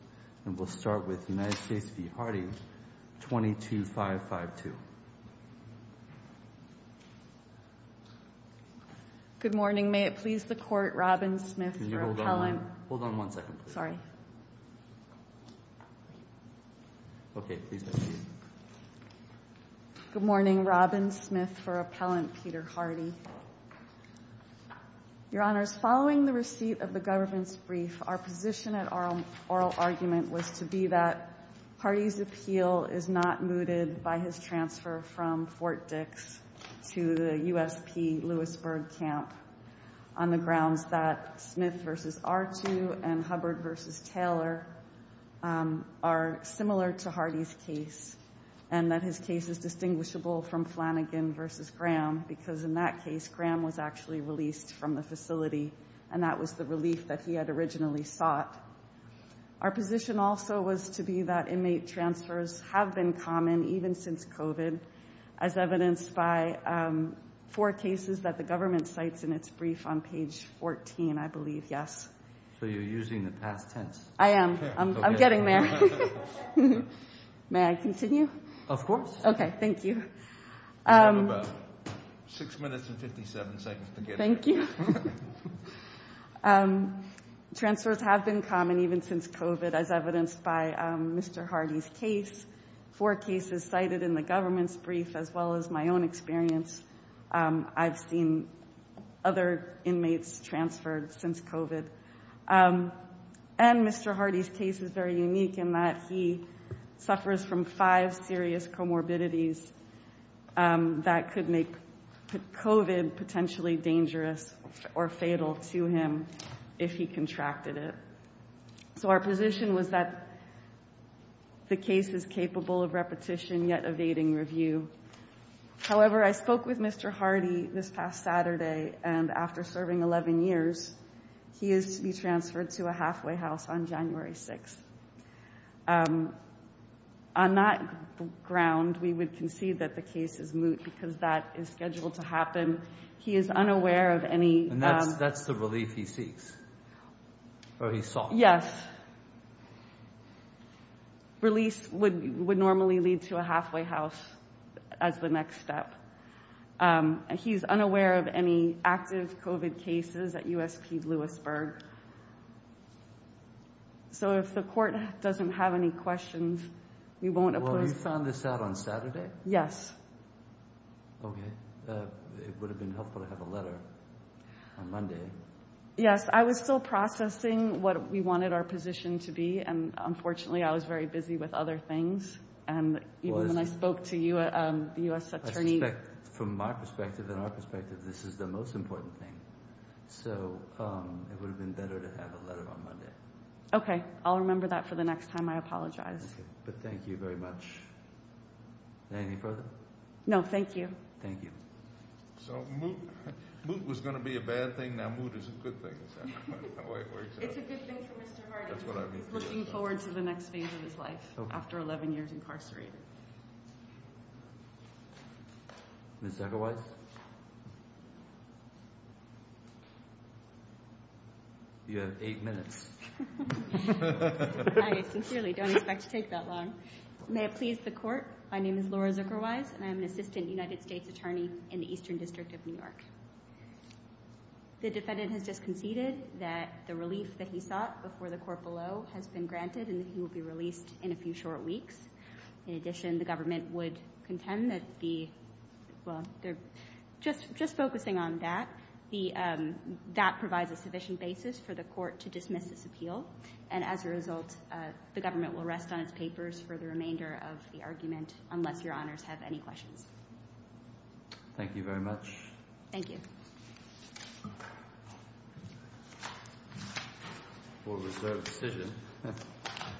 And we'll start with United States v. Hardie, 22552. Good morning. May it please the court, Robin Smith for appellant. Hold on one second, please. Sorry. OK, please proceed. Good morning, Robin Smith for appellant Peter Hardie. Your Honors, following the receipt of the government's brief, our position at oral argument was to be that Hardie's appeal is not mooted by his transfer from Fort Dix to the USP Lewisburg camp on the grounds that Smith v. R2 and Hubbard v. Taylor are similar to Hardie's case, and that his case is distinguishable from Flanagan v. Graham, because in that case, Graham was actually released from the facility, and that was the relief that he had originally sought. Our position also was to be that inmate transfers have been common, even since COVID, as evidenced by four cases that the government cites in its brief on page 14, I believe. Yes. So you're using the past tense. I am. I'm getting there. May I continue? Of course. OK, thank you. You have about six minutes and 57 seconds to get it. Thank you. Transfers have been common, even since COVID, as evidenced by Mr. Hardie's case, four cases cited in the government's brief, as well as my own experience. I've seen other inmates transferred since COVID. And Mr. Hardie's case is very unique in that he suffers from five serious comorbidities that could make COVID potentially dangerous or fatal to him if he contracted it. So our position was that the case is capable of repetition, yet evading review. However, I spoke with Mr. Hardie this past Saturday, and after serving 11 years, he is to be transferred to a halfway house on January 6. On that ground, we would concede that the case is moot, because that is scheduled to happen. He is unaware of any. That's the relief he seeks, or he sought. Yes. Release would normally lead to a halfway house as the next step. He's unaware of any active COVID cases at USP Lewisburg. So if the court doesn't have any questions, we won't oppose them. Well, you found this out on Saturday? Yes. OK. It would have been helpful to have a letter on Monday. Yes, I was still processing what we wanted our position to be. And unfortunately, I was very busy with other things. And even when I spoke to you, the US attorney. From my perspective and our perspective, this is the most important thing. So it would have been better to have a letter on Monday. OK, I'll remember that for the next time I apologize. But thank you very much. Anything further? No, thank you. Thank you. So moot was going to be a bad thing. Now, moot is a good thing, is that how it works out? It's a good thing for Mr. Hardy. That's what I mean. He's looking forward to the next phase of his life, after 11 years incarcerated. Ms. Zuckerweiss, you have eight minutes. I sincerely don't expect to take that long. May it please the court, my name is Laura Zuckerweiss. And I'm an assistant United States attorney in the Eastern District of New York. The defendant has just conceded that the relief that he sought before the court below has been granted. And he will be released in a few short weeks. In addition, the government would contend that the, well, just focusing on that, that provides a sufficient basis for the court to dismiss this appeal. And as a result, the government will rest on its papers for the remainder of the argument, unless your honors have any questions. Thank you very much. Thank you.